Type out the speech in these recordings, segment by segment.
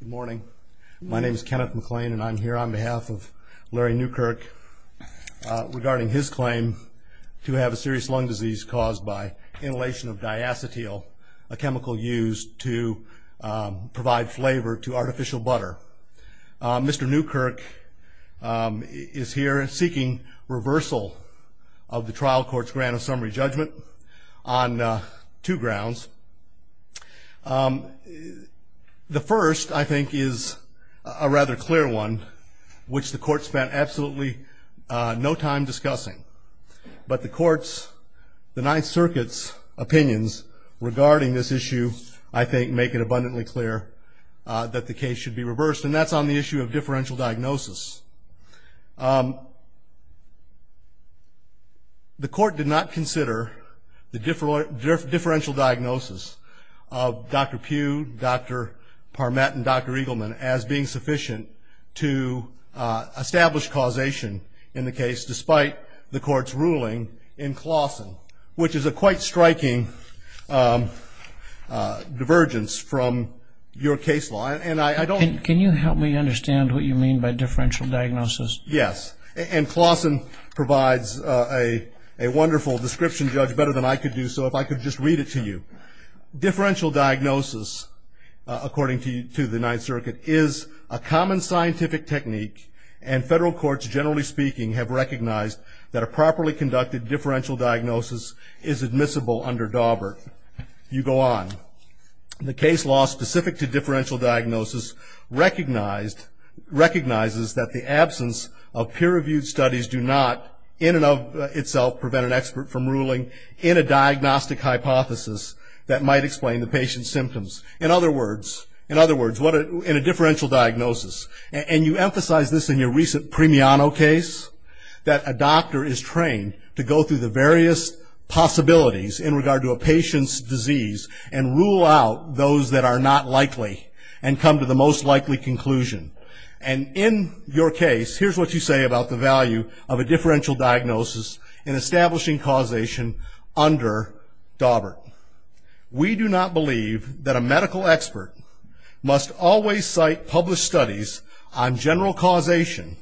Good morning. My name is Kenneth McLean and I'm here on behalf of Larry Newkirk regarding his claim to have a serious lung disease caused by inhalation of diacetyl, a chemical used to provide flavor to artificial butter. Mr. Newkirk is here seeking reversal of the trial court's grant of summary judgment on two grounds. The first, I think, is a rather clear one, which the court spent absolutely no time discussing. But the court's, the Ninth Circuit's, opinions regarding this issue, I think, make it abundantly clear that the case should be reversed, and that's on the issue of differential diagnosis. The court did not consider the differential diagnosis of Dr. Pugh, Dr. Parmet and Dr. Eagleman as being sufficient to establish causation in the case, despite the court's ruling in Claussen, which is a quite striking divergence from your case law. Can you help me understand what you mean by differential diagnosis? Yes. And Claussen provides a wonderful description, Judge, better than I could do, so if I could just read it to you. Differential diagnosis, according to the Ninth Circuit, is a common scientific technique, and federal courts, generally speaking, have recognized that a properly conducted differential diagnosis is admissible under Daubert. You go on. The case law specific to differential diagnosis recognizes that the absence of peer-reviewed studies do not, in and of itself, prevent an expert from ruling in a diagnostic hypothesis that might explain the patient's symptoms. In other words, in a differential diagnosis, and you emphasize this in your recent Premiano case, that a doctor is trained to go through the various possibilities in regard to a patient's disease and rule out those that are not likely and come to the most likely conclusion. And in your case, here's what you say about the value of a differential diagnosis in establishing causation under Daubert. We do not believe that a medical expert must always cite published studies on general causation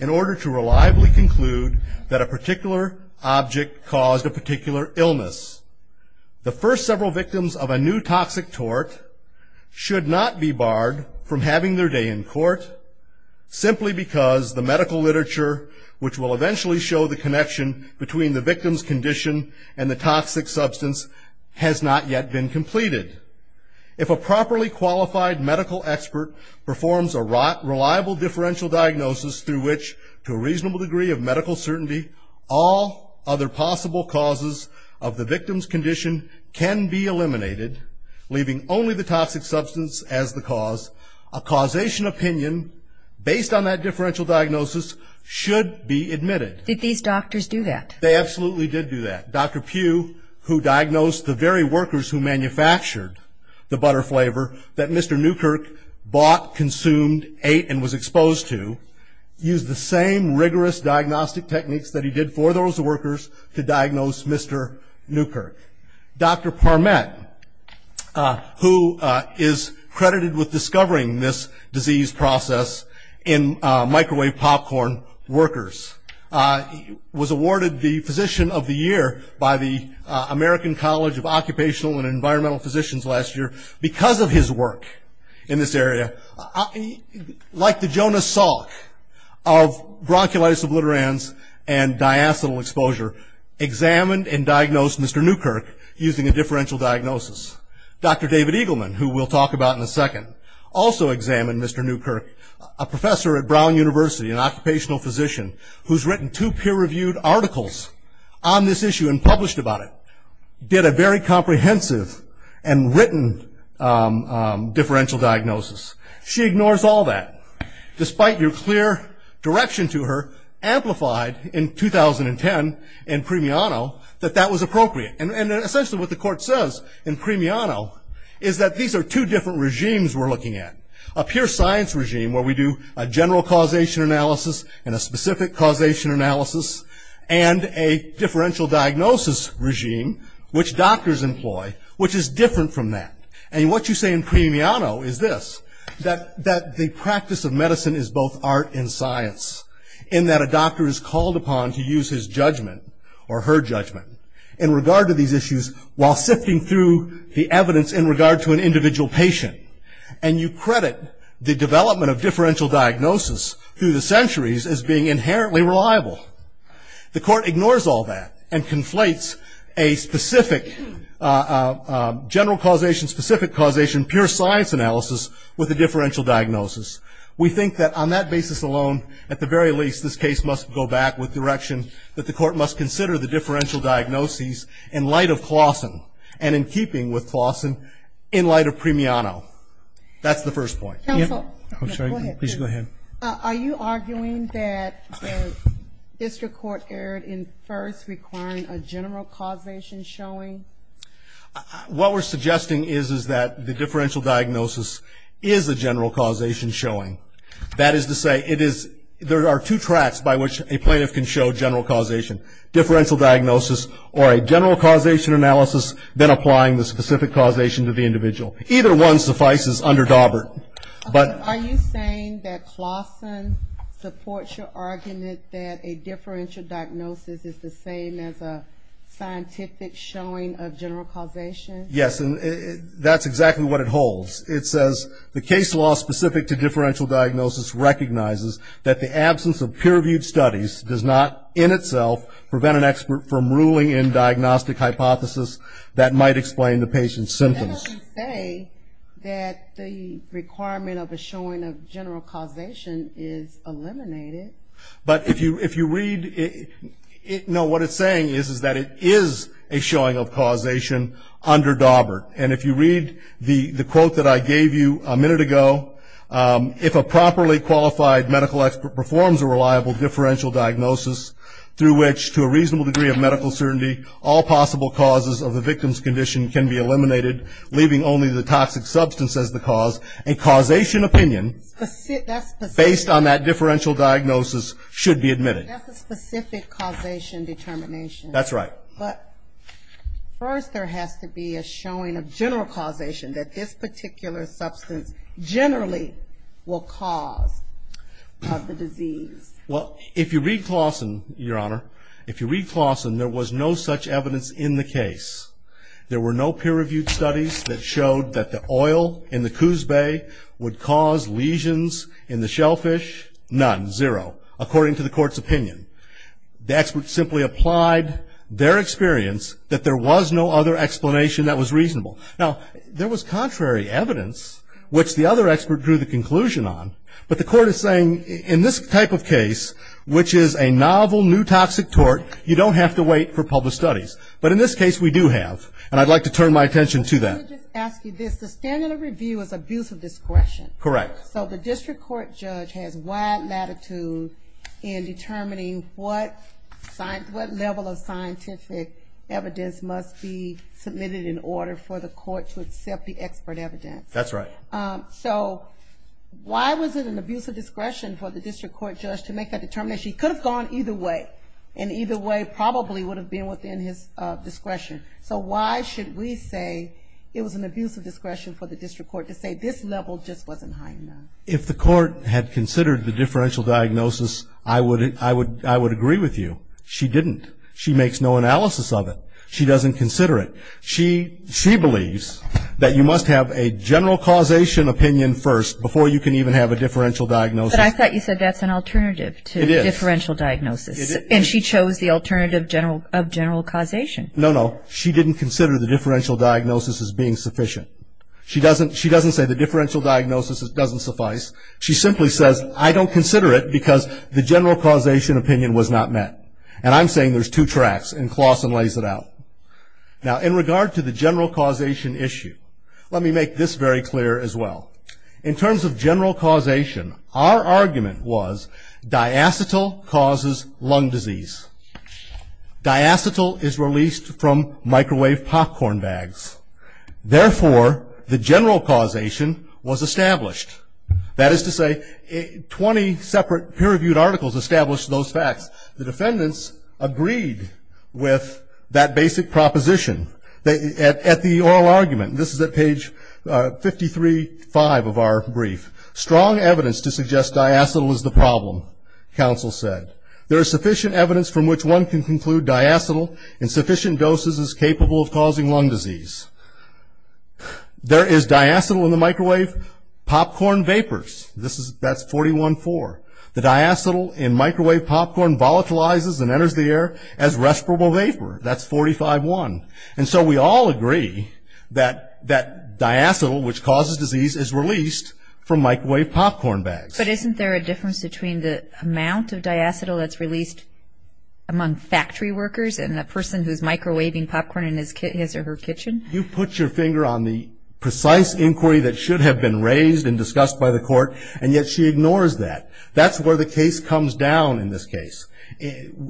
in order to reliably conclude that a particular object caused a particular illness. The first several victims of a new toxic tort should not be barred from having their day in court simply because the medical literature, which will eventually show the connection between the victim's condition and the toxic substance, has not yet been completed. If a properly qualified medical expert performs a reliable differential diagnosis through which, to a reasonable degree of medical certainty, all other possible causes of the victim's condition can be eliminated, leaving only the toxic substance as the cause, a causation opinion based on that differential diagnosis should be admitted. Did these doctors do that? They absolutely did do that. Dr. Pugh, who diagnosed the very workers who manufactured the butter flavor that Mr. Newkirk bought, consumed, ate, and was exposed to, used the same rigorous diagnostic techniques that he did for those workers to diagnose Mr. Newkirk. Dr. Parmet, who is credited with discovering this disease process in microwave popcorn workers, was awarded the Physician of the Year by the American College of Occupational and Environmental Physicians last year because of his work in this area. Like the Jonas Salk of bronchiolitis obliterans and diacetyl exposure, examined and diagnosed Mr. Newkirk using a differential diagnosis. Dr. David Eagleman, who we'll talk about in a second, also examined Mr. Newkirk. A professor at Brown University, an occupational physician, who's written two peer-reviewed articles on this issue and published about it, did a very comprehensive and written differential diagnosis. She ignores all that. Despite your clear direction to her, amplified in 2010 in Premiano that that was appropriate. And essentially what the court says in Premiano is that these are two different regimes we're looking at. A pure science regime where we do a general causation analysis and a specific causation analysis and a differential diagnosis regime, which doctors employ, which is different from that. And what you say in Premiano is this, that the practice of medicine is both art and science. In that a doctor is called upon to use his judgment or her judgment in regard to these issues while sifting through the evidence in regard to an individual patient. And you credit the development of differential diagnosis through the centuries as being inherently reliable. The court ignores all that and conflates a specific general causation, specific causation, pure science analysis with a differential diagnosis. We think that on that basis alone, at the very least, this case must go back with direction that the court must consider the differential diagnoses in light of Claussen and in keeping with Claussen in light of Premiano. That's the first point. Please go ahead. Are you arguing that the district court erred in first requiring a general causation showing? What we're suggesting is that the differential diagnosis is a general causation showing. That is to say, there are two tracks by which a plaintiff can show general causation. Differential diagnosis or a general causation analysis, then applying the specific causation to the individual. Either one suffices under Daubert. Are you saying that Claussen supports your argument that a differential diagnosis is the same as a scientific showing of general causation? Yes, and that's exactly what it holds. It says the case law specific to differential diagnosis recognizes that the absence of peer-reviewed studies does not, in itself, prevent an expert from ruling in diagnostic hypothesis that might explain the patient's symptoms. But you say that the requirement of a showing of general causation is eliminated. But if you read it, no, what it's saying is that it is a showing of causation under Daubert. And if you read the quote that I gave you a minute ago, if a properly qualified medical expert performs a reliable differential diagnosis through which, to a reasonable degree of medical certainty, all possible causes of the victim's condition can be eliminated, leaving only the toxic substance as the cause, a causation opinion based on that differential diagnosis should be admitted. That's a specific causation determination. That's right. But first there has to be a showing of general causation, that this particular substance generally will cause the disease. Well, if you read Clawson, Your Honor, if you read Clawson, there was no such evidence in the case. There were no peer-reviewed studies that showed that the oil in the Coos Bay would cause lesions in the shellfish. None. Zero. According to the court's opinion. The expert simply applied their experience that there was no other explanation that was reasonable. Now, there was contrary evidence, which the other expert drew the conclusion on. But the court is saying in this type of case, which is a novel, new toxic tort, you don't have to wait for public studies. But in this case, we do have. And I'd like to turn my attention to that. Let me just ask you this. The standard of review is abuse of discretion. Correct. So the district court judge has wide latitude in determining what level of scientific evidence must be submitted in order for the court to accept the expert evidence. That's right. So why was it an abuse of discretion for the district court judge to make that determination? He could have gone either way. And either way probably would have been within his discretion. So why should we say it was an abuse of discretion for the district court to say this level just wasn't high enough? If the court had considered the differential diagnosis, I would agree with you. She didn't. She makes no analysis of it. She doesn't consider it. She believes that you must have a general causation opinion first before you can even have a differential diagnosis. But I thought you said that's an alternative to differential diagnosis. It is. And she chose the alternative of general causation. No, no. She didn't consider the differential diagnosis as being sufficient. She doesn't say the differential diagnosis doesn't suffice. She simply says, I don't consider it because the general causation opinion was not met. And I'm saying there's two tracks, and Claussen lays it out. Now, in regard to the general causation issue, let me make this very clear as well. In terms of general causation, our argument was diacetyl causes lung disease. Diacetyl is released from microwave popcorn bags. Therefore, the general causation was established. That is to say, 20 separate peer-reviewed articles established those facts. The defendants agreed with that basic proposition at the oral argument. This is at page 53-5 of our brief. Strong evidence to suggest diacetyl is the problem, counsel said. There is sufficient evidence from which one can conclude diacetyl in sufficient doses is capable of causing lung disease. There is diacetyl in the microwave popcorn vapors. That's 41-4. The diacetyl in microwave popcorn volatilizes and enters the air as respirable vapor. That's 45-1. And so we all agree that diacetyl, which causes disease, is released from microwave popcorn bags. But isn't there a difference between the amount of diacetyl that's released among factory workers and the person who's microwaving popcorn in his or her kitchen? You put your finger on the precise inquiry that should have been raised and discussed by the court, and yet she ignores that. That's where the case comes down in this case.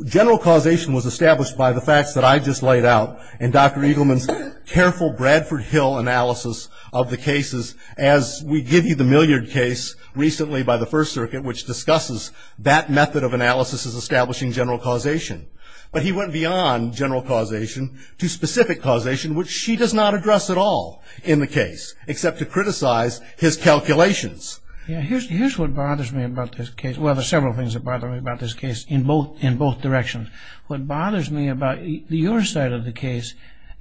General causation was established by the facts that I just laid out in Dr. Eagleman's careful Bradford Hill analysis of the cases. As we give you the Milliard case recently by the First Circuit, which discusses that method of analysis as establishing general causation. But he went beyond general causation to specific causation, which she does not address at all in the case, except to criticize his calculations. Here's what bothers me about this case. Well, there's several things that bother me about this case in both directions. What bothers me about your side of the case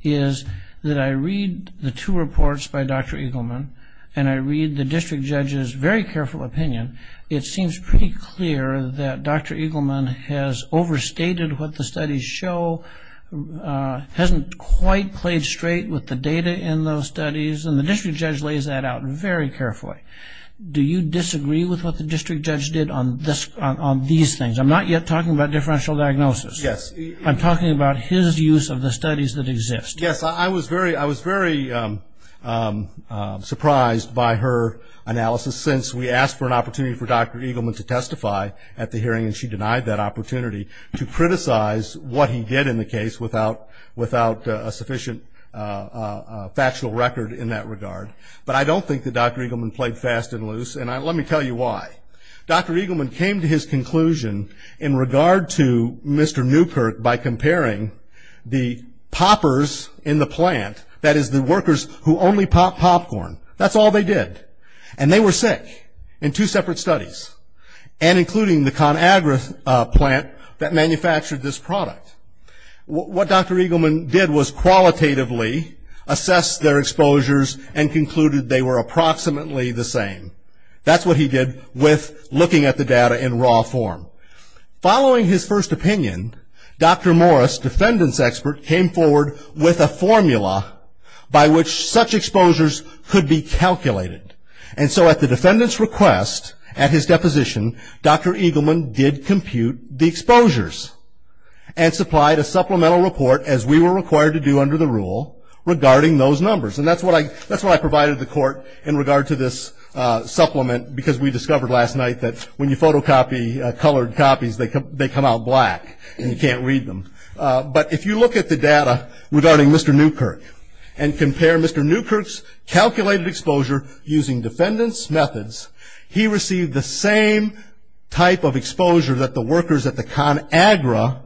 is that I read the two reports by Dr. Eagleman, and I read the district judge's very careful opinion. It seems pretty clear that Dr. Eagleman has overstated what the studies show, hasn't quite played straight with the data in those studies, and the district judge lays that out very carefully. Do you disagree with what the district judge did on these things? I'm not yet talking about differential diagnosis. Yes. I'm talking about his use of the studies that exist. Yes. I was very surprised by her analysis since we asked for an opportunity for Dr. Eagleman to testify at the hearing, and she denied that opportunity to criticize what he did in the case without a sufficient factual record in that regard. But I don't think that Dr. Eagleman played fast and loose, and let me tell you why. Dr. Eagleman came to his conclusion in regard to Mr. Newkirk by comparing the poppers in the plant, that is the workers who only pop popcorn, that's all they did. And they were sick in two separate studies, and including the ConAgra plant that manufactured this product. What Dr. Eagleman did was qualitatively assess their exposures and concluded they were approximately the same. That's what he did with looking at the data in raw form. Following his first opinion, Dr. Morris, defendant's expert, came forward with a formula by which such exposures could be calculated. And so at the defendant's request, at his deposition, Dr. Eagleman did compute the exposures and supplied a supplemental report, as we were required to do under the rule, regarding those numbers. And that's what I provided the court in regard to this supplement, because we discovered last night that when you photocopy colored copies, they come out black and you can't read them. But if you look at the data regarding Mr. Newkirk and compare Mr. Newkirk's calculated exposure using defendant's methods, he received the same type of exposure that the workers at the ConAgra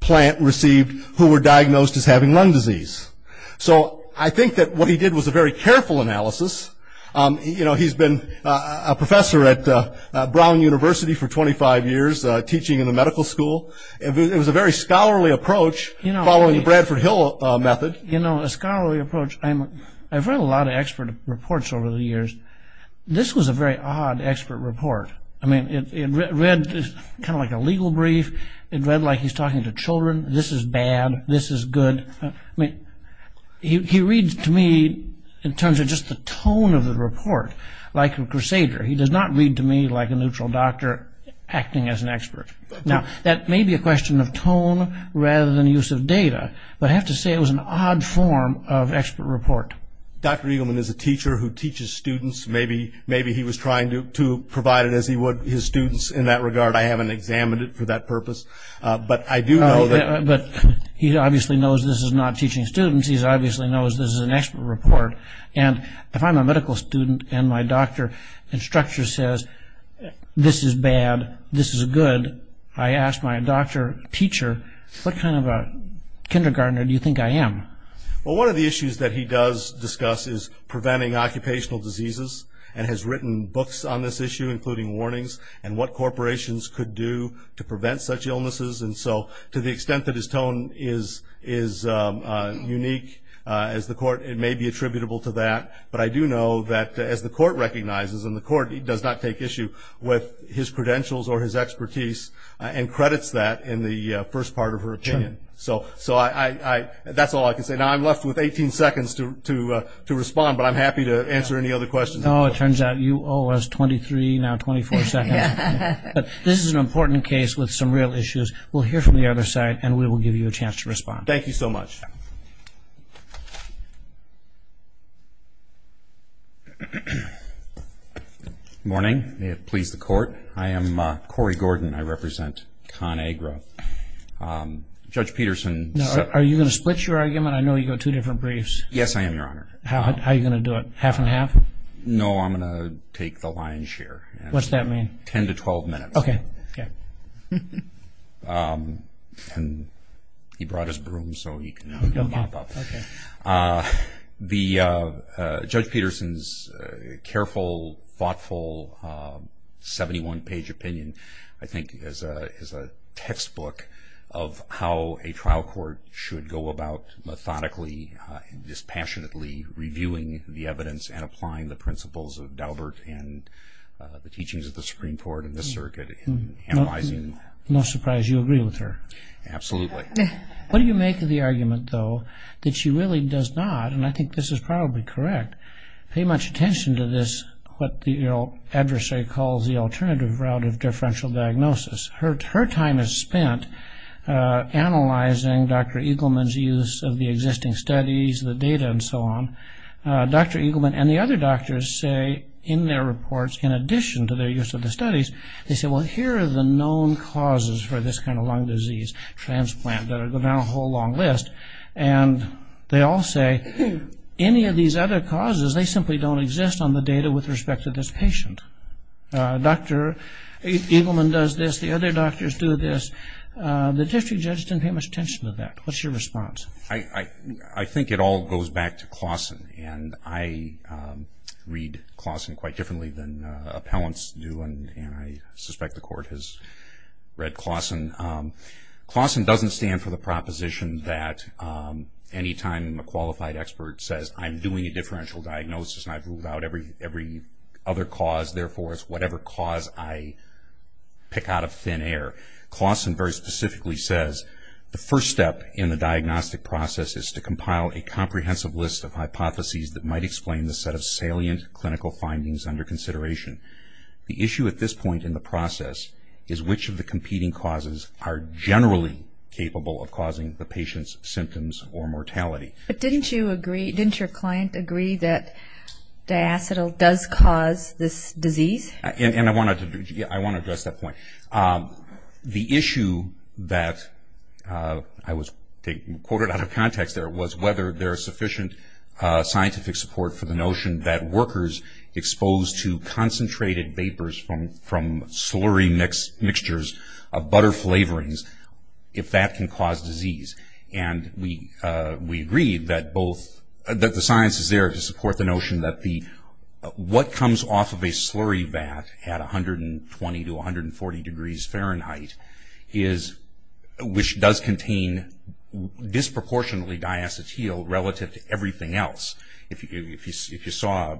plant received who were diagnosed as having lung disease. So I think that what he did was a very careful analysis. He's been a professor at Brown University for 25 years, teaching in the medical school. It was a very scholarly approach following the Bradford Hill method. You know, a scholarly approach, I've read a lot of expert reports over the years. This was a very odd expert report. I mean, it read kind of like a legal brief. It read like he's talking to children. This is bad. This is good. I mean, he reads to me in terms of just the tone of the report like a crusader. He does not read to me like a neutral doctor acting as an expert. Now, that may be a question of tone rather than use of data. But I have to say it was an odd form of expert report. Dr. Eagleman is a teacher who teaches students. Maybe he was trying to provide it as he would his students in that regard. I haven't examined it for that purpose. But I do know that. But he obviously knows this is not teaching students. He obviously knows this is an expert report. And if I'm a medical student and my doctor instructor says, this is bad, this is good, I ask my doctor teacher, what kind of a kindergartner do you think I am? Well, one of the issues that he does discuss is preventing occupational diseases and has written books on this issue including warnings and what corporations could do to prevent such illnesses. And so to the extent that his tone is unique as the court, it may be attributable to that. But I do know that as the court recognizes, and the court does not take issue with his credentials or his expertise and credits that in the first part of her opinion. So that's all I can say. Now, I'm left with 18 seconds to respond, but I'm happy to answer any other questions. Oh, it turns out you owe us 23, now 24 seconds. This is an important case with some real issues. We'll hear from the other side, and we will give you a chance to respond. Thank you so much. Good morning. May it please the court. I am Corey Gordon. I represent ConAgra. Judge Peterson. Are you going to split your argument? I know you got two different briefs. Yes, I am, Your Honor. How are you going to do it? Half and half? No, I'm going to take the lion's share. What's that mean? Ten to 12 minutes. Okay. And he brought his broom so he can mop up. Okay. Judge Peterson's careful, thoughtful, 71-page opinion, I think, is a textbook of how a trial court should go about methodically, dispassionately reviewing the evidence and applying the principles of Daubert and the teachings of the Supreme Court and the circuit in analyzing. No surprise you agree with her. Absolutely. What do you make of the argument, though, that she really does not, and I think this is probably correct, pay much attention to this what the adversary calls the alternative route of differential diagnosis. Her time is spent analyzing Dr. Eagleman's use of the existing studies, the data, and so on. Dr. Eagleman and the other doctors say in their reports, in addition to their use of the studies, they say, well here are the known causes for this kind of lung disease transplant that are now a whole long list. And they all say any of these other causes, they simply don't exist on the data with respect to this patient. Dr. Eagleman does this, the other doctors do this. The district judge didn't pay much attention to that. What's your response? I think it all goes back to Clausen, and I read Clausen quite differently than appellants do, and I suspect the Court has read Clausen. Clausen doesn't stand for the proposition that any time a qualified expert says, I'm doing a differential diagnosis and I've ruled out every other cause, therefore it's whatever cause I pick out of thin air. Clausen very specifically says the first step in the diagnostic process is to compile a comprehensive list of hypotheses that might explain the set of salient clinical findings under consideration. The issue at this point in the process is which of the competing causes are generally capable of causing the patient's symptoms or mortality. But didn't you agree, didn't your client agree that diacetyl does cause this disease? And I want to address that point. The issue that I was quoted out of context there was whether there is sufficient scientific support for the notion that workers exposed to concentrated vapors from slurry mixtures of butter flavorings, if that can cause disease. And we agreed that both, that the science is there to support the notion that what comes off of a slurry vat at 120 to 140 degrees Fahrenheit is, which does contain disproportionately diacetyl relative to everything else. If you saw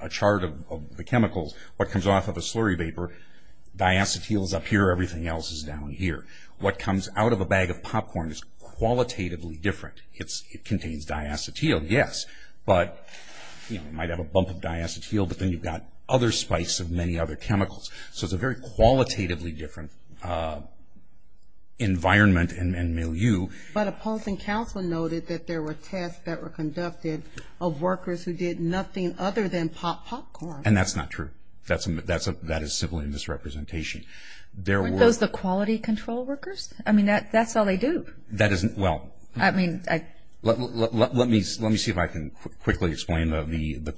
a chart of the chemicals, what comes off of a slurry vapor, diacetyl is up here, everything else is down here. What comes out of a bag of popcorn is qualitatively different. It contains diacetyl, yes, but it might have a bump of diacetyl, but then you've got other spice and many other chemicals. So it's a very qualitatively different environment and milieu. But a policy council noted that there were tests that were conducted of workers who did nothing other than pop popcorn. And that's not true. That is simply a misrepresentation. Aren't those the quality control workers? I mean, that's all they do. Well, let me see if I can quickly explain the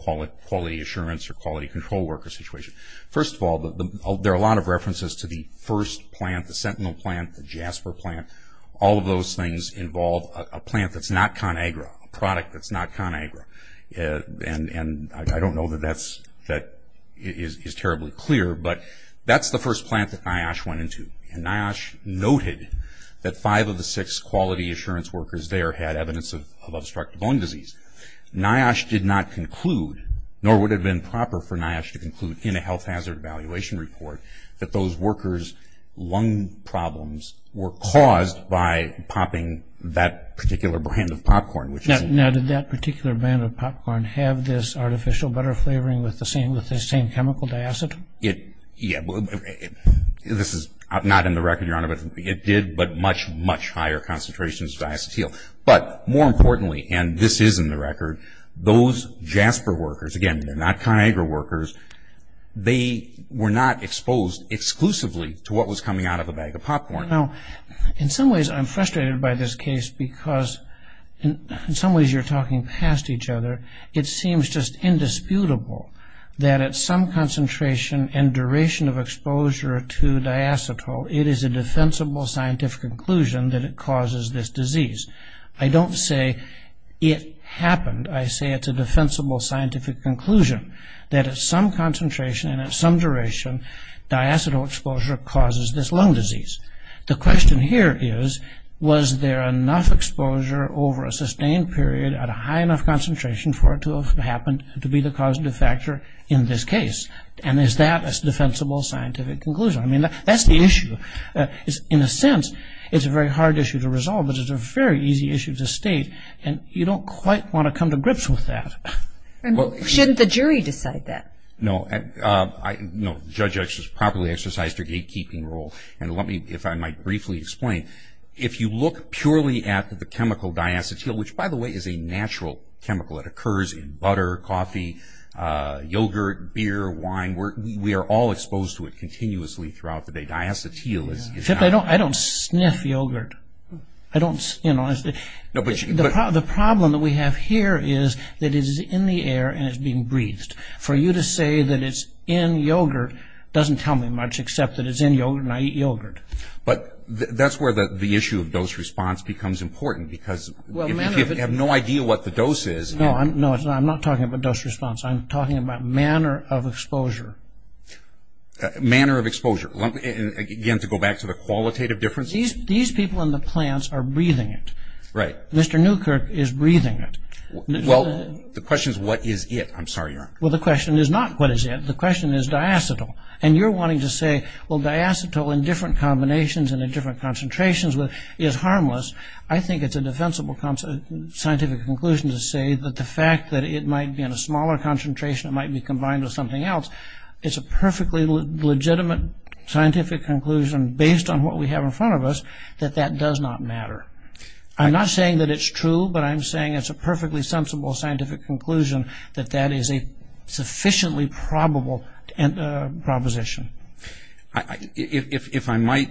quality assurance or quality control worker situation. First of all, there are a lot of references to the first plant, the Sentinel plant, the Jasper plant. All of those things involve a plant that's not ConAgra, a product that's not ConAgra. And I don't know that that is terribly clear, but that's the first plant that NIOSH went into. And NIOSH noted that five of the six quality assurance workers there had evidence of obstructive lung disease. NIOSH did not conclude, nor would it have been proper for NIOSH to conclude, in a health hazard evaluation report, that those workers' lung problems were caused by popping that particular brand of popcorn. Now, did that particular brand of popcorn have this artificial butter flavoring with the same chemical, diacetyl? Yeah. This is not in the record, Your Honor, but it did, but much, much higher concentrations of diacetyl. But more importantly, and this is in the record, those Jasper workers, again, they're not ConAgra workers, they were not exposed exclusively to what was coming out of a bag of popcorn. Now, in some ways I'm frustrated by this case because in some ways you're talking past each other. It seems just indisputable that at some concentration and duration of exposure to diacetyl, it is a defensible scientific conclusion that it causes this disease. I don't say it happened. I say it's a defensible scientific conclusion that at some concentration and at some duration, diacetyl exposure causes this lung disease. The question here is, was there enough exposure over a sustained period at a high enough concentration for it to have happened to be the causative factor in this case? And is that a defensible scientific conclusion? I mean, that's the issue. In a sense, it's a very hard issue to resolve, but it's a very easy issue to state, and you don't quite want to come to grips with that. Shouldn't the jury decide that? No. The judge has properly exercised her gatekeeping role. And let me, if I might briefly explain, if you look purely at the chemical diacetyl, which, by the way, is a natural chemical. It occurs in butter, coffee, yogurt, beer, wine. We are all exposed to it continuously throughout the day. Diacetyl is not... I don't sniff yogurt. I don't, you know... The problem that we have here is that it is in the air and it's being breathed. For you to say that it's in yogurt doesn't tell me much, except that it's in yogurt and I eat yogurt. But that's where the issue of dose response becomes important, because if you have no idea what the dose is... No, I'm not talking about dose response. I'm talking about manner of exposure. Manner of exposure. Again, to go back to the qualitative differences? These people in the plants are breathing it. Right. Mr. Newkirk is breathing it. Well, the question is what is it. I'm sorry, Your Honor. Well, the question is not what is it. The question is diacetyl. And you're wanting to say, well, diacetyl in different combinations and in different concentrations is harmless. I think it's a defensible scientific conclusion to say that the fact that it might be in a smaller concentration, it might be combined with something else, it's a perfectly legitimate scientific conclusion based on what we have in front of us that that does not matter. I'm not saying that it's true, but I'm saying it's a perfectly sensible scientific conclusion that that is a sufficiently probable proposition. If I might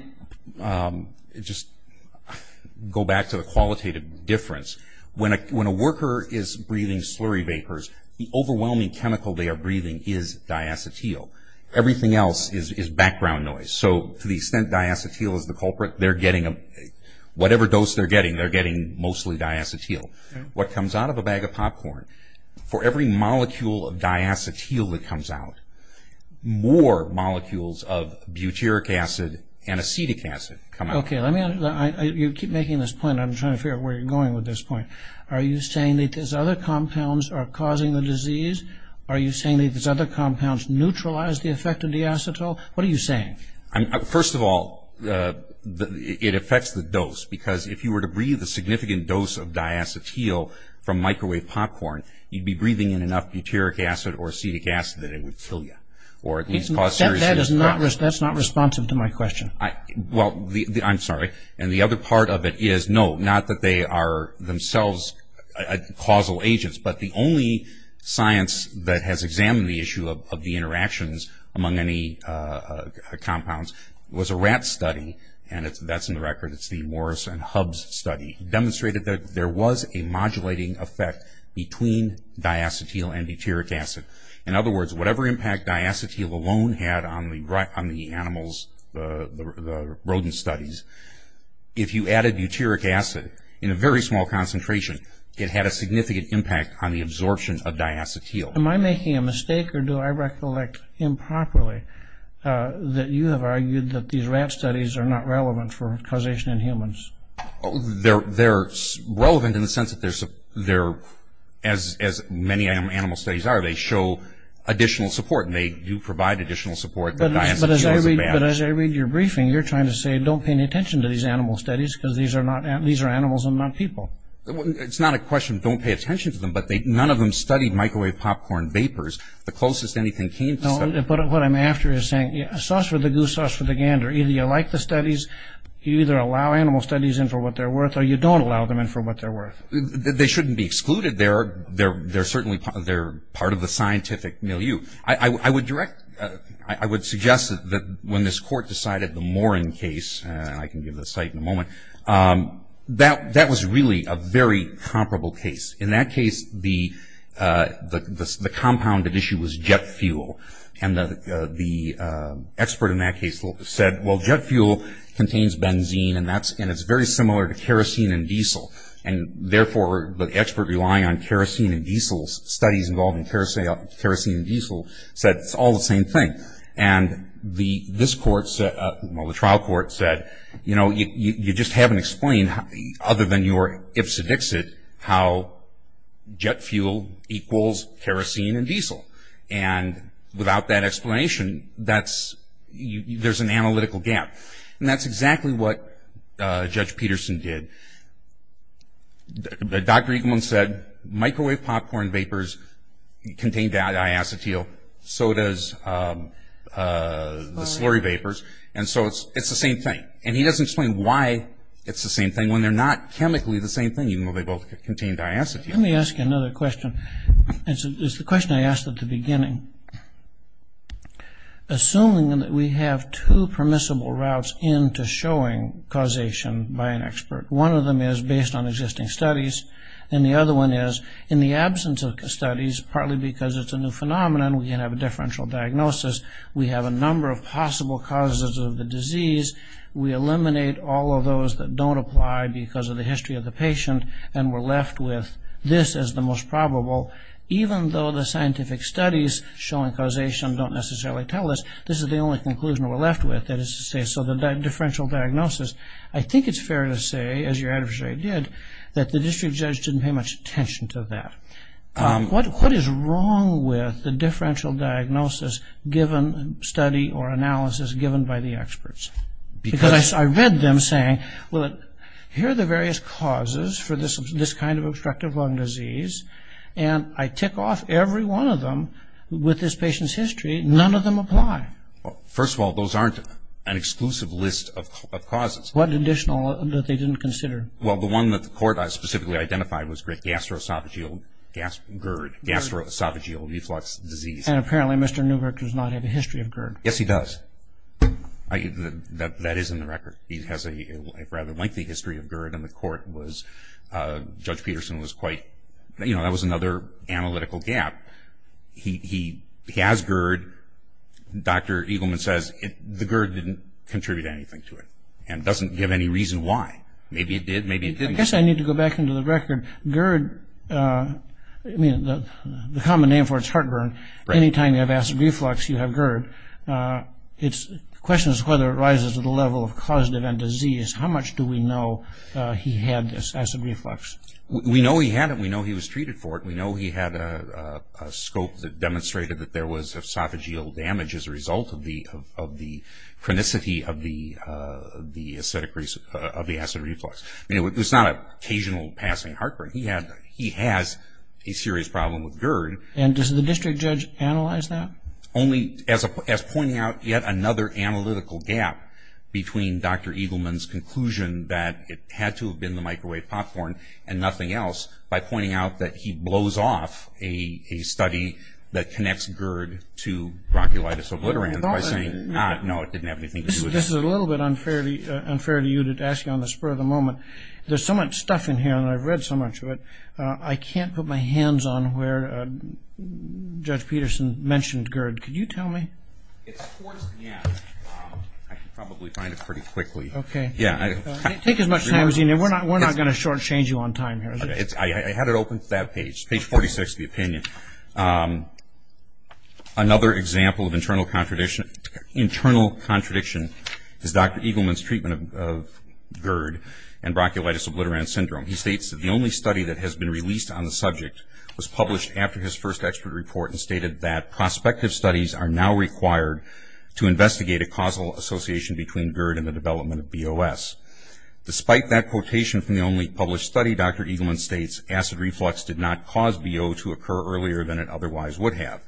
just go back to the qualitative difference, when a worker is breathing slurry vapors, the overwhelming chemical they are breathing is diacetyl. Everything else is background noise. So to the extent diacetyl is the culprit, whatever dose they're getting, they're getting mostly diacetyl. What comes out of a bag of popcorn, for every molecule of diacetyl that comes out, more molecules of butyric acid and acetic acid come out. Okay, you keep making this point. I'm trying to figure out where you're going with this point. Are you saying that these other compounds are causing the disease? Are you saying that these other compounds neutralize the effect of diacetyl? What are you saying? First of all, it affects the dose, because if you were to breathe a significant dose of diacetyl from microwave popcorn, you'd be breathing in enough butyric acid or acetic acid that it would kill you. That's not responsive to my question. Well, I'm sorry. And the other part of it is, no, not that they are themselves causal agents, but the only science that has examined the issue of the interactions among any compounds was a rat study, and that's in the record. It's the Morris and Hubs study. It demonstrated that there was a modulating effect between diacetyl and butyric acid. In other words, whatever impact diacetyl alone had on the animals, the rodent studies, if you added butyric acid in a very small concentration, it had a significant impact on the absorption of diacetyl. Am I making a mistake, or do I recollect improperly that you have argued that these rat studies are not relevant for causation in humans? They're relevant in the sense that they're, as many animal studies are, they show additional support, and they do provide additional support. But as I read your briefing, you're trying to say, don't pay any attention to these animal studies because these are animals and not people. It's not a question, don't pay attention to them, but none of them studied microwave popcorn vapors. The closest anything came to that. No, but what I'm after is saying, sauce for the goose, sauce for the gander. Either you like the studies, you either allow animal studies in for what they're worth, or you don't allow them in for what they're worth. They shouldn't be excluded. They're certainly part of the scientific milieu. I would suggest that when this court decided the Morin case, and I can give the site in a moment, that was really a very comparable case. In that case, the compounded issue was jet fuel, and the expert in that case said, well, jet fuel contains benzene, and it's very similar to kerosene and diesel. And therefore, the expert relying on kerosene and diesel, studies involving kerosene and diesel, said it's all the same thing. And this court, well, the trial court said, you know, you just haven't explained other than your ipsedixit how jet fuel equals kerosene and diesel. And without that explanation, there's an analytical gap. And that's exactly what Judge Peterson did. Dr. Eagleman said microwave popcorn vapors contain diacetyl, so does the slurry vapors, and so it's the same thing. And he doesn't explain why it's the same thing when they're not chemically the same thing, even though they both contain diacetyl. Let me ask you another question. It's the question I asked at the beginning. Assuming that we have two permissible routes into showing causation by an expert, one of them is based on existing studies, and the other one is in the absence of studies, partly because it's a new phenomenon, we can have a differential diagnosis, we have a number of possible causes of the disease, we eliminate all of those that don't apply because of the history of the patient, and we're left with this as the most probable, even though the scientific studies showing causation don't necessarily tell us, this is the only conclusion we're left with, that is to say, so the differential diagnosis, I think it's fair to say, as your adversary did, that the district judge didn't pay much attention to that. What is wrong with the differential diagnosis given study or analysis given by the experts? Because I read them saying, well, here are the various causes for this kind of obstructive lung disease, and I tick off every one of them with this patient's history, none of them apply. First of all, those aren't an exclusive list of causes. What additional that they didn't consider? Well, the one that the court specifically identified was gastroesophageal GERD, gastroesophageal reflux disease. Yes, he does. That is in the record. He has a rather lengthy history of GERD, and the court was, Judge Peterson was quite, you know, that was another analytical gap. He has GERD. Dr. Eagleman says the GERD didn't contribute anything to it, and doesn't give any reason why. Maybe it did, maybe it didn't. I guess I need to go back into the record. GERD, I mean, the common name for it is heartburn. Anytime you have acid reflux, you have GERD. The question is whether it rises to the level of causative end disease. How much do we know he had this acid reflux? We know he had it. We know he was treated for it. We know he had a scope that demonstrated that there was esophageal damage as a result of the chronicity of the acid reflux. I mean, it was not an occasional passing heartburn. He has a serious problem with GERD. And does the district judge analyze that? Only as pointing out yet another analytical gap between Dr. Eagleman's conclusion that it had to have been the microwave popcorn and nothing else by pointing out that he blows off a study that connects GERD to bronchiolitis obliterans by saying, ah, no, it didn't have anything to do with it. This is a little bit unfair to you to ask you on the spur of the moment. There's so much stuff in here, and I've read so much of it, I can't put my hands on where Judge Peterson mentioned GERD. Could you tell me? It's towards the end. I can probably find it pretty quickly. Okay. Take as much time as you need. We're not going to shortchange you on time here. I had it open to that page, page 46 of the opinion. Another example of internal contradiction is Dr. Eagleman's treatment of GERD and bronchiolitis obliterans syndrome. He states that the only study that has been released on the subject was published after his first expert report and stated that prospective studies are now required to investigate a causal association between GERD and the development of BOS. Despite that quotation from the only published study, Dr. Eagleman states acid reflux did not cause BO to occur earlier than it otherwise would have.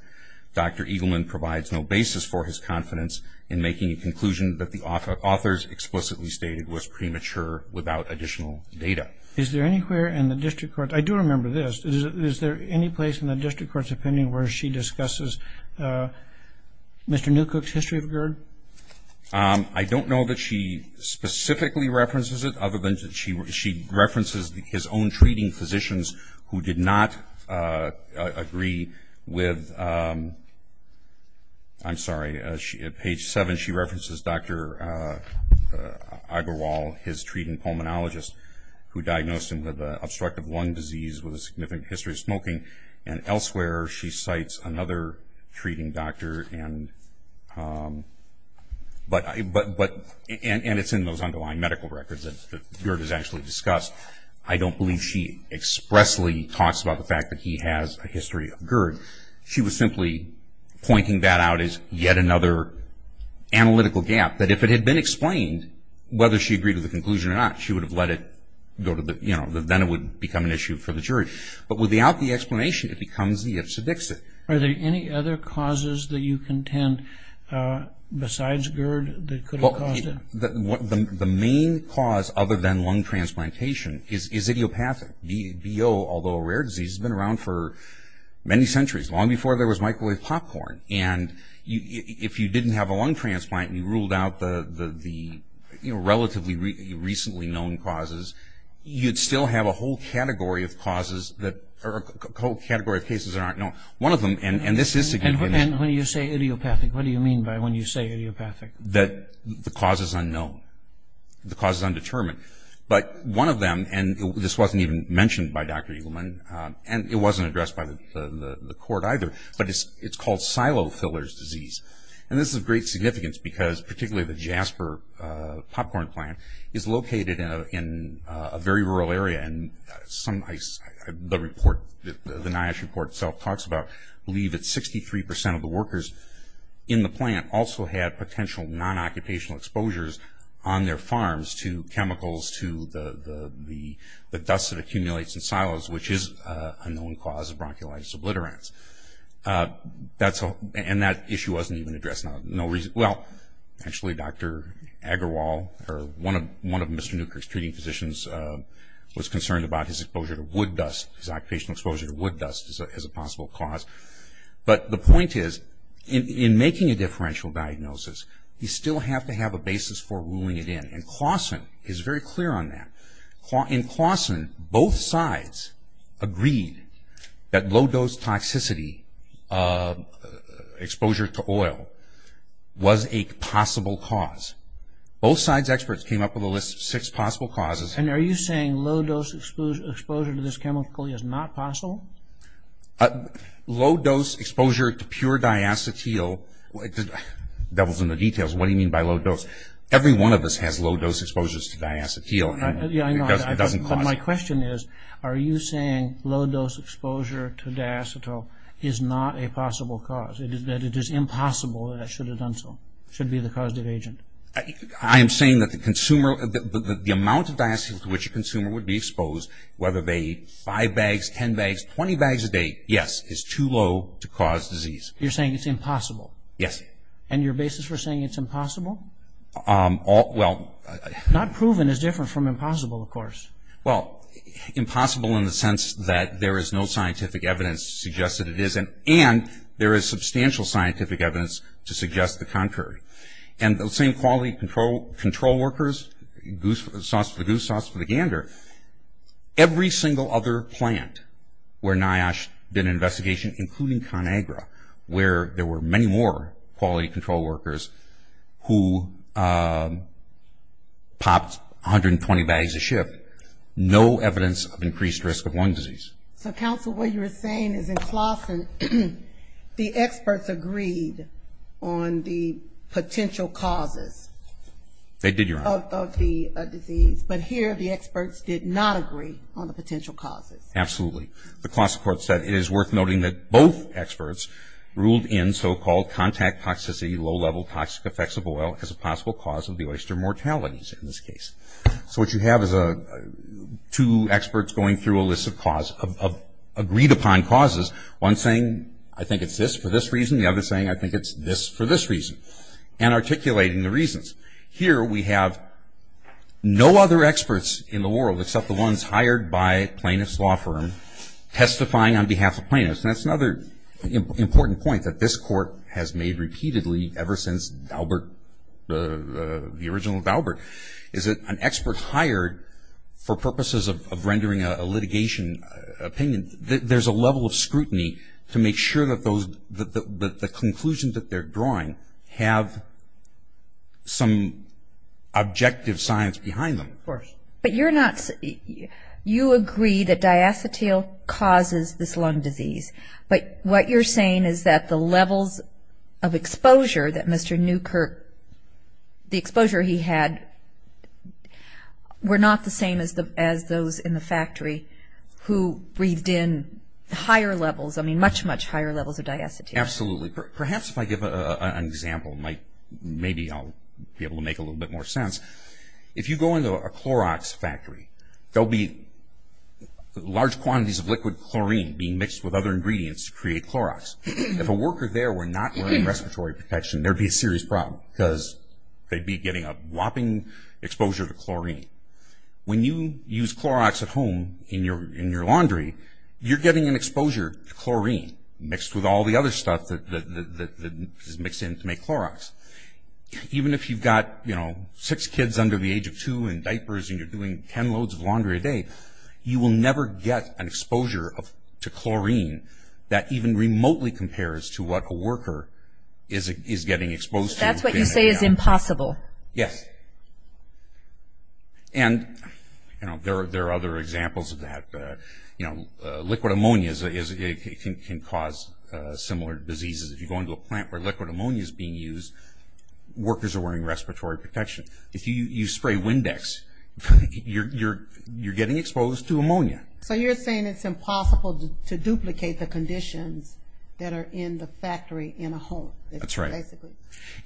Dr. Eagleman provides no basis for his confidence in making a conclusion that the author's explicitly stated was premature without additional data. Is there anywhere in the district court, I do remember this, is there any place in the district court's opinion where she discusses Mr. Newkirk's history of GERD? I don't know that she specifically references it, other than she references his own treating physicians who did not agree with, I'm sorry, at page seven she references Dr. Agarwal, his treating pulmonologist, who diagnosed him with obstructive lung disease with a significant history of smoking, and elsewhere she cites another treating doctor, and it's in those underlying medical records that GERD is actually discussed. I don't believe she expressly talks about the fact that he has a history of GERD. She was simply pointing that out as yet another analytical gap, that if it had been explained, whether she agreed with the conclusion or not, she would have let it go to the, you know, then it would become an issue for the jury. But without the explanation, it becomes the ifs or dixits. Are there any other causes that you contend, besides GERD, that could have caused it? The main cause, other than lung transplantation, is idiopathic. BO, although a rare disease, has been around for many centuries, long before there was microwave popcorn. And if you didn't have a lung transplant and you ruled out the relatively recently known causes, you'd still have a whole category of cases that aren't known. One of them, and this is significant. And when you say idiopathic, what do you mean by when you say idiopathic? That the cause is unknown, the cause is undetermined. But one of them, and this wasn't even mentioned by Dr. Eagleman, and it wasn't addressed by the court either, but it's called silo fillers disease. And this is of great significance because particularly the Jasper popcorn plant is located in a very rural area. And the NIOSH report itself talks about, I believe it's 63% of the workers in the plant also had potential non-occupational exposures on their farms to chemicals, to the dust that accumulates in silos, which is a known cause of bronchiolitis obliterans. And that issue wasn't even addressed. Well, actually Dr. Agarwal, or one of Mr. Newkirk's treating physicians, was concerned about his exposure to wood dust, his occupational exposure to wood dust as a possible cause. But the point is, in making a differential diagnosis, you still have to have a basis for ruling it in. And Claussen is very clear on that. In Claussen, both sides agreed that low-dose toxicity exposure to oil was a possible cause. Both sides' experts came up with a list of six possible causes. And are you saying low-dose exposure to this chemical is not possible? Low-dose exposure to pure diacetyl, devil's in the details, what do you mean by low-dose? Every one of us has low-dose exposures to diacetyl. Yeah, I know. It doesn't cause it. But my question is, are you saying low-dose exposure to diacetyl is not a possible cause, that it is impossible that it should have done so, should be the causative agent? I am saying that the amount of diacetyl to which a consumer would be exposed, whether they eat five bags, ten bags, 20 bags a day, yes, is too low to cause disease. You're saying it's impossible. Yes. And your basis for saying it's impossible? Well. Not proven is different from impossible, of course. Well, impossible in the sense that there is no scientific evidence to suggest that it isn't, and there is substantial scientific evidence to suggest the contrary. And those same quality control workers, sauce for the goose, sauce for the gander, every single other plant where NIOSH did an investigation, including ConAgra, where there were many more quality control workers who popped 120 bags a shift, no evidence of increased risk of lung disease. So, counsel, what you're saying is in Claassen, the experts agreed on the potential causes. They did, Your Honor. Of the disease, but here the experts did not agree on the potential causes. Absolutely. The Claassen court said it is worth noting that both experts ruled in so-called contact toxicity, low-level toxic effects of oil as a possible cause of the oyster mortalities in this case. So what you have is two experts going through a list of agreed-upon causes, one saying, I think it's this for this reason, the other saying, I think it's this for this reason, and articulating the reasons. Here we have no other experts in the world except the ones hired by a plaintiff's law firm testifying on behalf of plaintiffs. And that's another important point that this court has made repeatedly ever since the original Daubert, is that an expert hired for purposes of rendering a litigation opinion, there's a level of scrutiny to make sure that the conclusions that they're drawing have some objective science behind them. Of course. But you're not, you agree that diacetyl causes this lung disease, but what you're saying is that the levels of exposure that Mr. Newkirk, the exposure he had were not the same as those in the factory who breathed in higher levels, I mean much, much higher levels of diacetyl. Absolutely. Perhaps if I give an example, maybe I'll be able to make a little bit more sense. If you go into a Clorox factory, there'll be large quantities of liquid chlorine being mixed with other ingredients to create Clorox. If a worker there were not wearing respiratory protection, there'd be a serious problem, because they'd be getting a whopping exposure to chlorine. When you use Clorox at home in your laundry, you're getting an exposure to chlorine, mixed with all the other stuff that is mixed in to make Clorox. Even if you've got six kids under the age of two in diapers and you're doing ten loads of laundry a day, you will never get an exposure to chlorine that even remotely compares to what a worker is getting exposed to. That's what you say is impossible. Yes. And there are other examples of that. Liquid ammonia can cause similar diseases. If you go into a plant where liquid ammonia is being used, workers are wearing respiratory protection. If you spray Windex, you're getting exposed to ammonia. So you're saying it's impossible to duplicate the conditions that are in the factory in a home. That's right. Basically.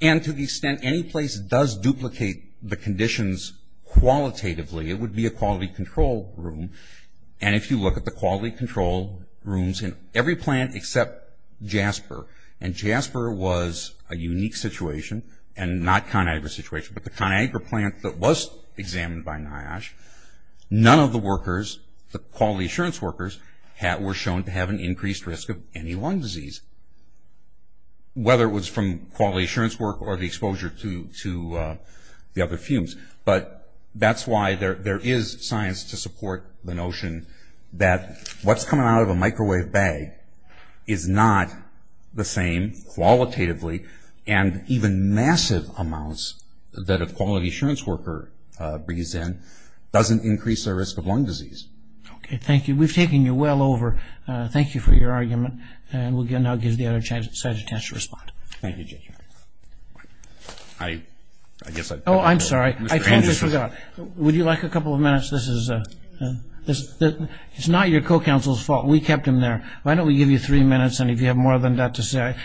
And to the extent any place does duplicate the conditions qualitatively, it would be a quality control room. And if you look at the quality control rooms in every plant except Jasper, and Jasper was a unique situation, and not ConAgra situation, but the ConAgra plant that was examined by NIOSH, none of the workers, the quality assurance workers, were shown to have an increased risk of any lung disease, whether it was from quality assurance work or the exposure to the other fumes. But that's why there is science to support the notion that what's coming out of a microwave bag is not the same qualitatively and even massive amounts that a quality assurance worker brings in doesn't increase their risk of lung disease. Okay. Thank you. We've taken you well over. Thank you for your argument. And we'll now give the other side a chance to respond. Thank you, Jay. I guess I've got to go. Oh, I'm sorry. Would you like a couple of minutes? This is not your co-counsel's fault. We kept him there. Why don't we give you three minutes, and if you have more than that to say.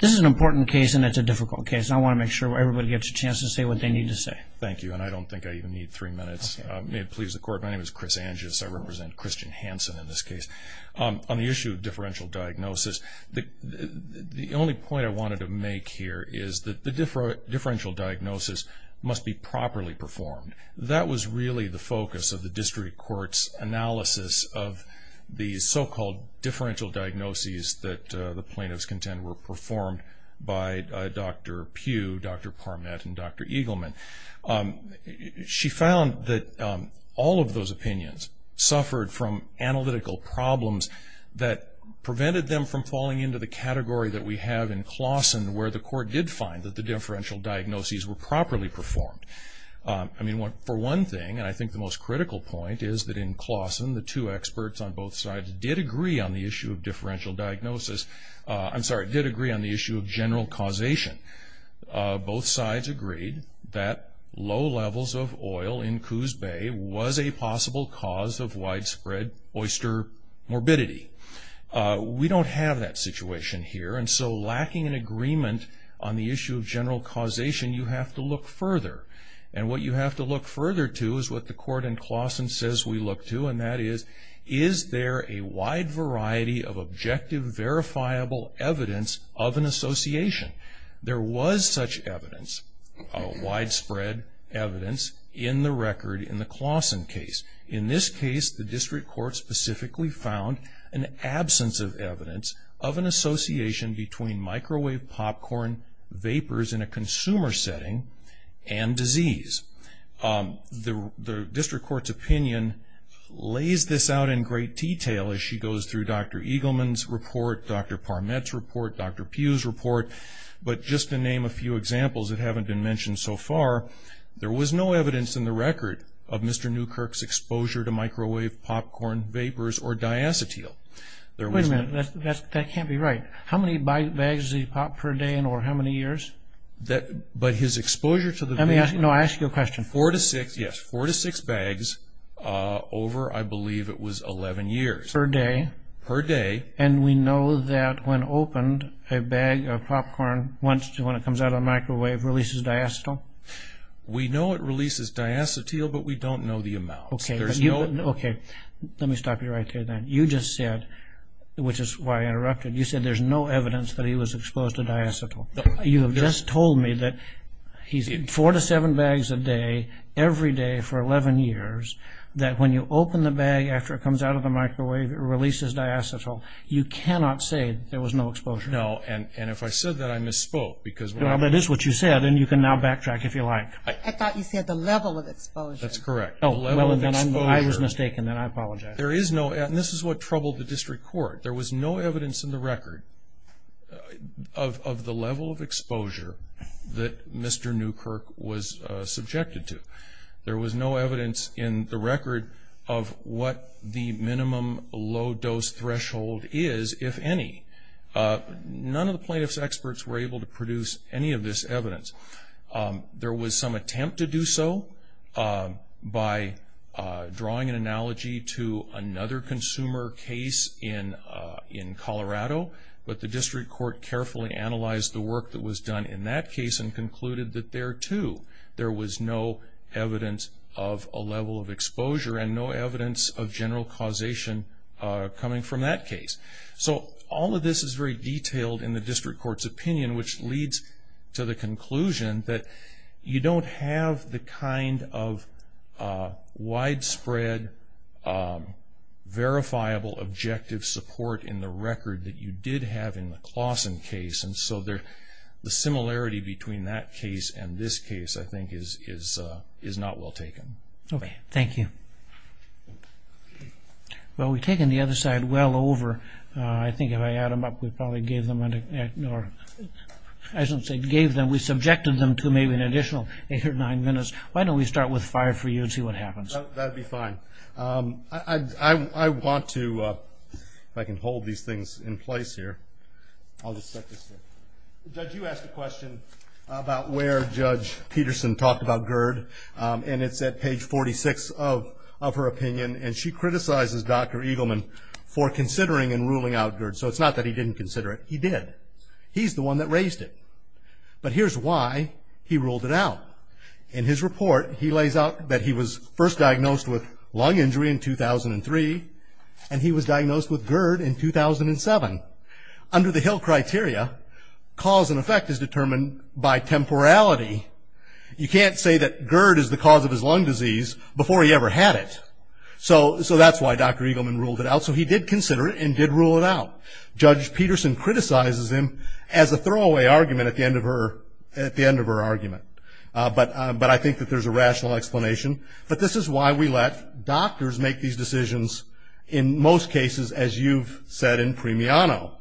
This is an important case, and it's a difficult case. I want to make sure everybody gets a chance to say what they need to say. Thank you, and I don't think I even need three minutes. May it please the Court, my name is Chris Angus. I represent Christian Hansen in this case. On the issue of differential diagnosis, the only point I wanted to make here is that the differential diagnosis must be properly performed. That was really the focus of the district court's analysis of the so-called differential diagnoses that the plaintiffs contend were performed by Dr. Pugh, Dr. Parmet, and Dr. Eagleman. She found that all of those opinions suffered from analytical problems that prevented them from falling into the category that we have in Claussen, where the court did find that the differential diagnoses were properly performed. For one thing, and I think the most critical point, is that in Claussen, the two experts on both sides did agree on the issue of differential diagnosis. I'm sorry, did agree on the issue of general causation. Both sides agreed that low levels of oil in Coos Bay was a possible cause of widespread oyster morbidity. We don't have that situation here, and so lacking an agreement on the issue of general causation, you have to look further. And what you have to look further to is what the court in Claussen says we look to, and that is, is there a wide variety of objective, verifiable evidence of an association? There was such evidence, widespread evidence, in the record in the Claussen case. In this case, the district court specifically found an absence of evidence of an association between microwave popcorn vapors in a consumer setting and disease. The district court's opinion lays this out in great detail as she goes through Dr. Eagleman's report, Dr. Parmet's report, Dr. Pugh's report. But just to name a few examples that haven't been mentioned so far, there was no evidence in the record of Mr. Newkirk's exposure to microwave popcorn vapors or diacetyl. Wait a minute, that can't be right. How many bags does he pop per day or how many years? But his exposure to the vapors... Let me ask you a question. Four to six, yes, four to six bags over, I believe it was, 11 years. Per day? Per day. And we know that when opened, a bag of popcorn, when it comes out of the microwave, releases diacetyl? We know it releases diacetyl, but we don't know the amount. Okay, let me stop you right there then. You just said, which is why I interrupted, you said there's no evidence that he was exposed to diacetyl. You have just told me that he's in four to seven bags a day, every day for 11 years, that when you open the bag after it comes out of the microwave, it releases diacetyl. You cannot say there was no exposure. No, and if I said that, I misspoke because... Well, that is what you said, and you can now backtrack if you like. I thought you said the level of exposure. That's correct. Oh, well, then I was mistaken, and I apologize. There is no evidence, and this is what troubled the district court. There was no evidence in the record of the level of exposure that Mr. Newkirk was subjected to. There was no evidence in the record of what the minimum low-dose threshold is, if any. None of the plaintiff's experts were able to produce any of this evidence. There was some attempt to do so by drawing an analogy to another consumer case in Colorado, but the district court carefully analyzed the work that was done in that case and concluded that there, too, there was no evidence of a level of exposure and no evidence of general causation coming from that case. So all of this is very detailed in the district court's opinion, which leads to the conclusion that you don't have the kind of widespread, verifiable, objective support in the record that you did have in the Claussen case, and so the similarity between that case and this case, I think, is not well taken. Okay, thank you. Well, we've taken the other side well over. I think if I add them up, we probably gave them an extra minute. I shouldn't say gave them. We subjected them to maybe an additional eight or nine minutes. Why don't we start with five for you and see what happens? That would be fine. I want to, if I can hold these things in place here. I'll just set this there. Judge, you asked a question about where Judge Peterson talked about GERD, and it's at page 46 of her opinion, and she criticizes Dr. Eagleman for considering and ruling out GERD. So it's not that he didn't consider it. He did. He's the one that raised it. But here's why he ruled it out. In his report, he lays out that he was first diagnosed with lung injury in 2003, and he was diagnosed with GERD in 2007. Under the Hill criteria, cause and effect is determined by temporality. You can't say that GERD is the cause of his lung disease before he ever had it. So that's why Dr. Eagleman ruled it out. So he did consider it and did rule it out. Judge Peterson criticizes him as a throwaway argument at the end of her argument. But I think that there's a rational explanation. But this is why we let doctors make these decisions in most cases, as you've said in Premiano.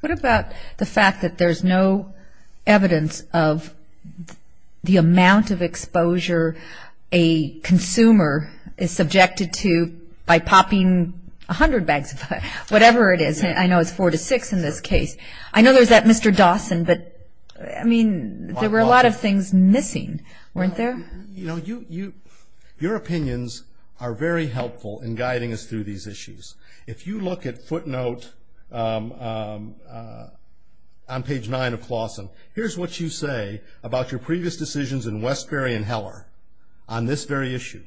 What about the fact that there's no evidence of the amount of exposure a consumer is subjected to by popping 100 bags of fire, whatever it is. I know it's four to six in this case. I know there's that Mr. Dawson, but, I mean, there were a lot of things missing, weren't there? You know, your opinions are very helpful in guiding us through these issues. If you look at footnote on page nine of Clawson, here's what you say about your previous decisions in Westbury and Heller on this very issue.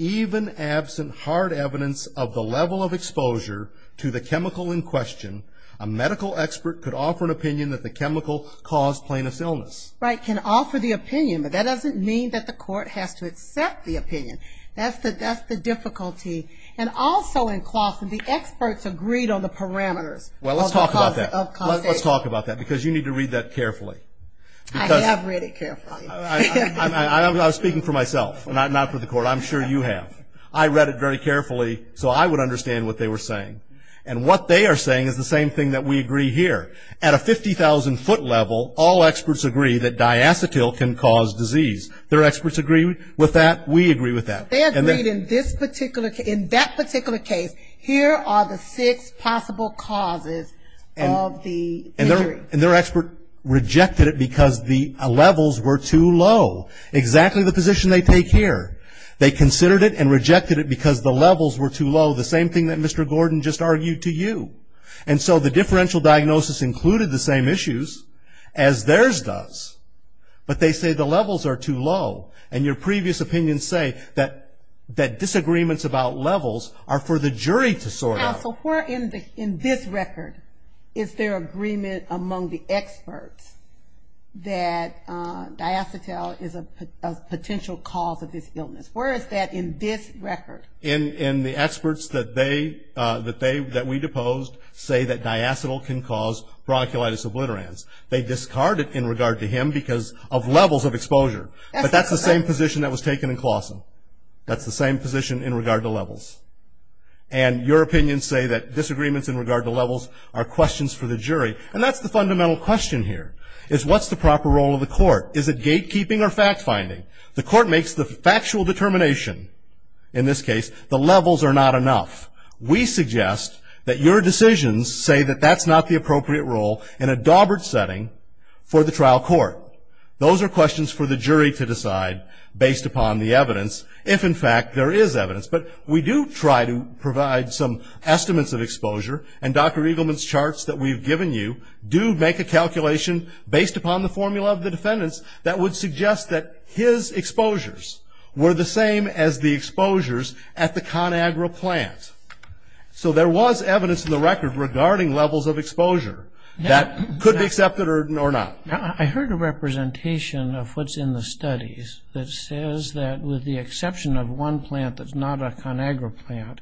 Even absent hard evidence of the level of exposure to the chemical in question, a medical expert could offer an opinion that the chemical caused plaintiff's illness. Right, can offer the opinion, but that doesn't mean that the court has to accept the opinion. That's the difficulty. And also in Clawson, the experts agreed on the parameters. Well, let's talk about that. Let's talk about that, because you need to read that carefully. I have read it carefully. I was speaking for myself, not for the court. I'm sure you have. I read it very carefully, so I would understand what they were saying. And what they are saying is the same thing that we agree here. At a 50,000 foot level, all experts agree that diacetyl can cause disease. Their experts agree with that. We agree with that. They agreed in this particular case, in that particular case, here are the six possible causes of the injury. And their expert rejected it because the levels were too low. Exactly the position they take here. They considered it and rejected it because the levels were too low, the same thing that Mr. Gordon just argued to you. And so the differential diagnosis included the same issues as theirs does, but they say the levels are too low. And your previous opinions say that disagreements about levels are for the jury to sort out. Now, so where in this record is there agreement among the experts that diacetyl is a potential cause of this illness? Where is that in this record? In the experts that they, that we deposed, say that diacetyl can cause bronchiolitis obliterans. They discard it in regard to him because of levels of exposure. But that's the same position that was taken in Clawson. That's the same position in regard to levels. And your opinions say that disagreements in regard to levels are questions for the jury. And that's the fundamental question here, is what's the proper role of the court? Is it gatekeeping or fact finding? The court makes the factual determination. In this case, the levels are not enough. We suggest that your decisions say that that's not the appropriate role in a Dawbert setting for the trial court. Those are questions for the jury to decide based upon the evidence if, in fact, there is evidence. But we do try to provide some estimates of exposure. And Dr. Eagleman's charts that we've given you do make a calculation based upon the formula of the defendants that would suggest that his exposures were the same as the exposures at the ConAgra plant. So there was evidence in the record regarding levels of exposure that could be accepted or not. I heard a representation of what's in the studies that says that with the exception of one plant that's not a ConAgra plant,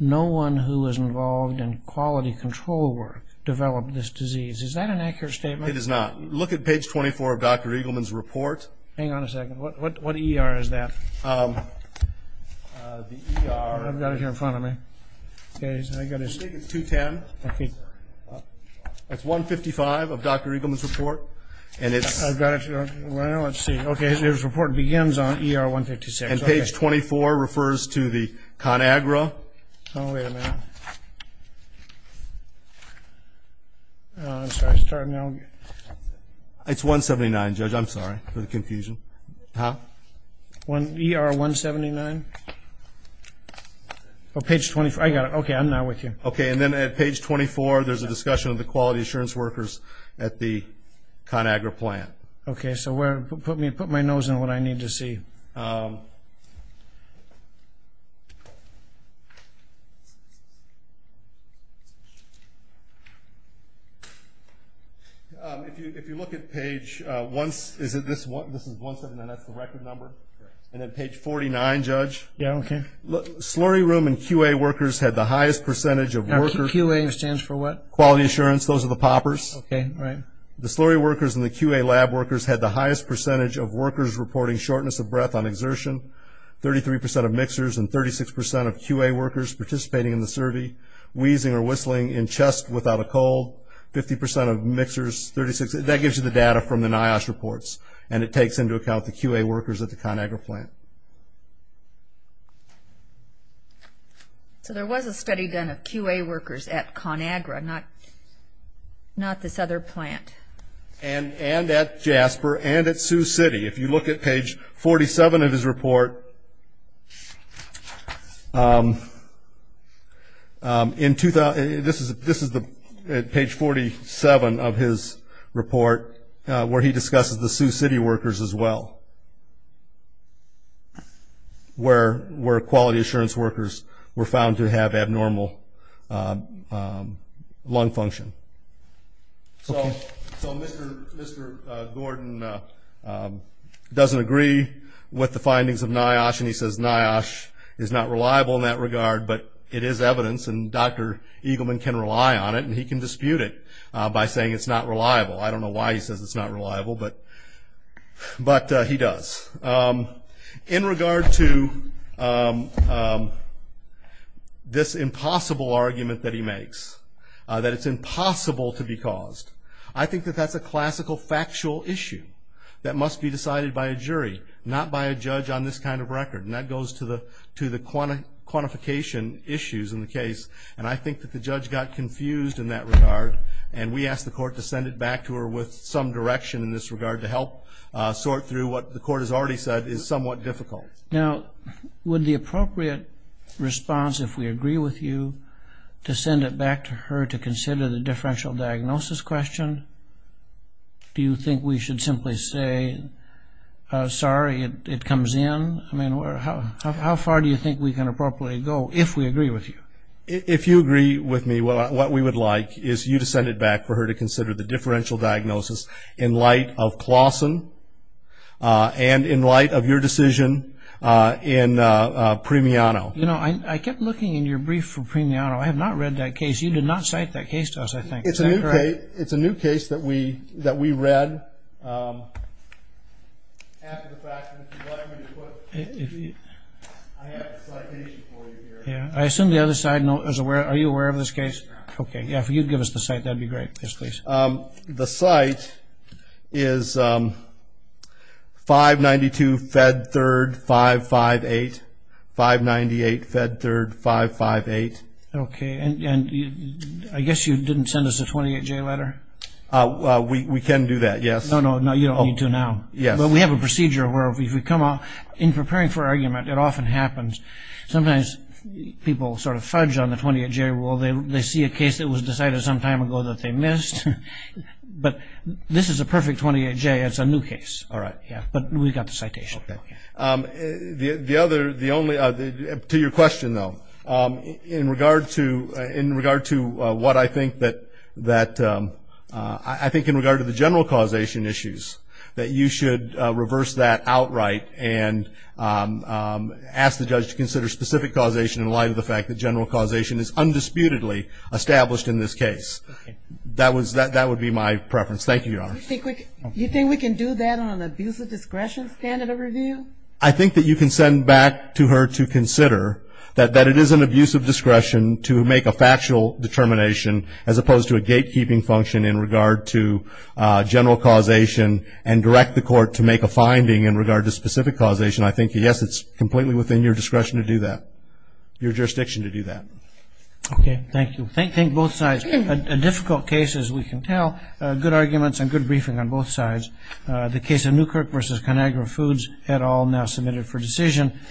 no one who was involved in quality control work developed this disease. Is that an accurate statement? It is not. Look at page 24 of Dr. Eagleman's report. Hang on a second. What ER is that? The ER. I've got it here in front of me. I've got it. It's 210. It's 155 of Dr. Eagleman's report. I've got it. Well, let's see. Okay. His report begins on ER 156. And page 24 refers to the ConAgra. Oh, wait a minute. I'm sorry. Start now. It's 179, Judge. I'm sorry for the confusion. Huh? ER 179. Oh, page 24. I got it. Okay. I'm not with you. Okay. And then at page 24, there's a discussion of the quality assurance workers at the ConAgra plant. Okay. So put my nose in what I need to see. If you look at page once, is it this one? This is 179. That's the record number. And then page 49, Judge. Yeah, okay. Slurry room and QA workers had the highest percentage of workers. QA stands for what? Quality assurance. Those are the poppers. Okay, right. The slurry workers and the QA lab workers had the highest percentage of workers reporting shortness of breath on exertion, 33% of mixers, and 36% of QA workers participating in the survey, wheezing or whistling in chest without a cold, 50% of mixers, 36. That gives you the data from the NIOSH reports, and it takes into account the QA workers at the ConAgra plant. So there was a study done of QA workers at ConAgra, not this other plant. And at Jasper and at Sioux City. If you look at page 47 of his report, this is page 47 of his report where he discusses the Sioux City workers as well, where quality assurance workers were found to have abnormal lung function. So Mr. Gordon doesn't agree with the findings of NIOSH and he says NIOSH is not reliable in that regard, but it is evidence and Dr. Eagleman can rely on it and he can dispute it by saying it's not reliable. I don't know why he says it's not reliable, but he does. In regard to this impossible argument that he makes, that it's impossible to be caused, I think that that's a classical factual issue that must be decided by a jury, not by a judge on this kind of record, and that goes to the quantification issues in the case, and I think that the judge got confused in that regard and we asked the court to send it back to her with some direction in this regard to help sort through what the court has already said is somewhat difficult. Now, would the appropriate response, if we agree with you, to send it back to her to consider the differential diagnosis question? Do you think we should simply say, sorry, it comes in? I mean, how far do you think we can appropriately go if we agree with you? If you agree with me, what we would like is you to send it back for her to consider the differential diagnosis in light of Claussen and in light of your decision in Premiano. You know, I kept looking in your brief for Premiano. I have not read that case. You did not cite that case to us, I think. It's a new case that we read after the fact, and if you'd like me to put it, I have a citation for you here. Yeah. I assume the other side is aware. Are you aware of this case? Yeah. Okay. Yeah, if you'd give us the site, that would be great. Yes, please. The site is 592 Fed 3rd 558, 598 Fed 3rd 558. Okay. And I guess you didn't send us a 28-J letter? We can do that, yes. No, no, you don't need to now. Yes. But we have a procedure where if we come out, in preparing for argument, it often happens sometimes people sort of fudge on the 28-J rule. They see a case that was decided some time ago that they missed, but this is a perfect 28-J. It's a new case. All right. Yeah, but we've got the citation. Okay. To your question, though, in regard to what I think that the general causation issues, that you should reverse that outright and ask the judge to consider specific causation in light of the fact that general causation is undisputedly established in this case. Okay. That would be my preference. Thank you, Your Honor. You think we can do that on an abuse of discretion standard of review? I think that you can send back to her to consider that it is an abuse of discretion to make a factual determination, as opposed to a gatekeeping function in regard to general causation and direct the court to make a finding in regard to specific causation. I think, yes, it's completely within your discretion to do that, your jurisdiction to do that. Okay. Thank you. Thank both sides. A difficult case, as we can tell, good arguments and good briefing on both sides. The case of Newkirk v. ConAgra Foods et al. now submitted for decision.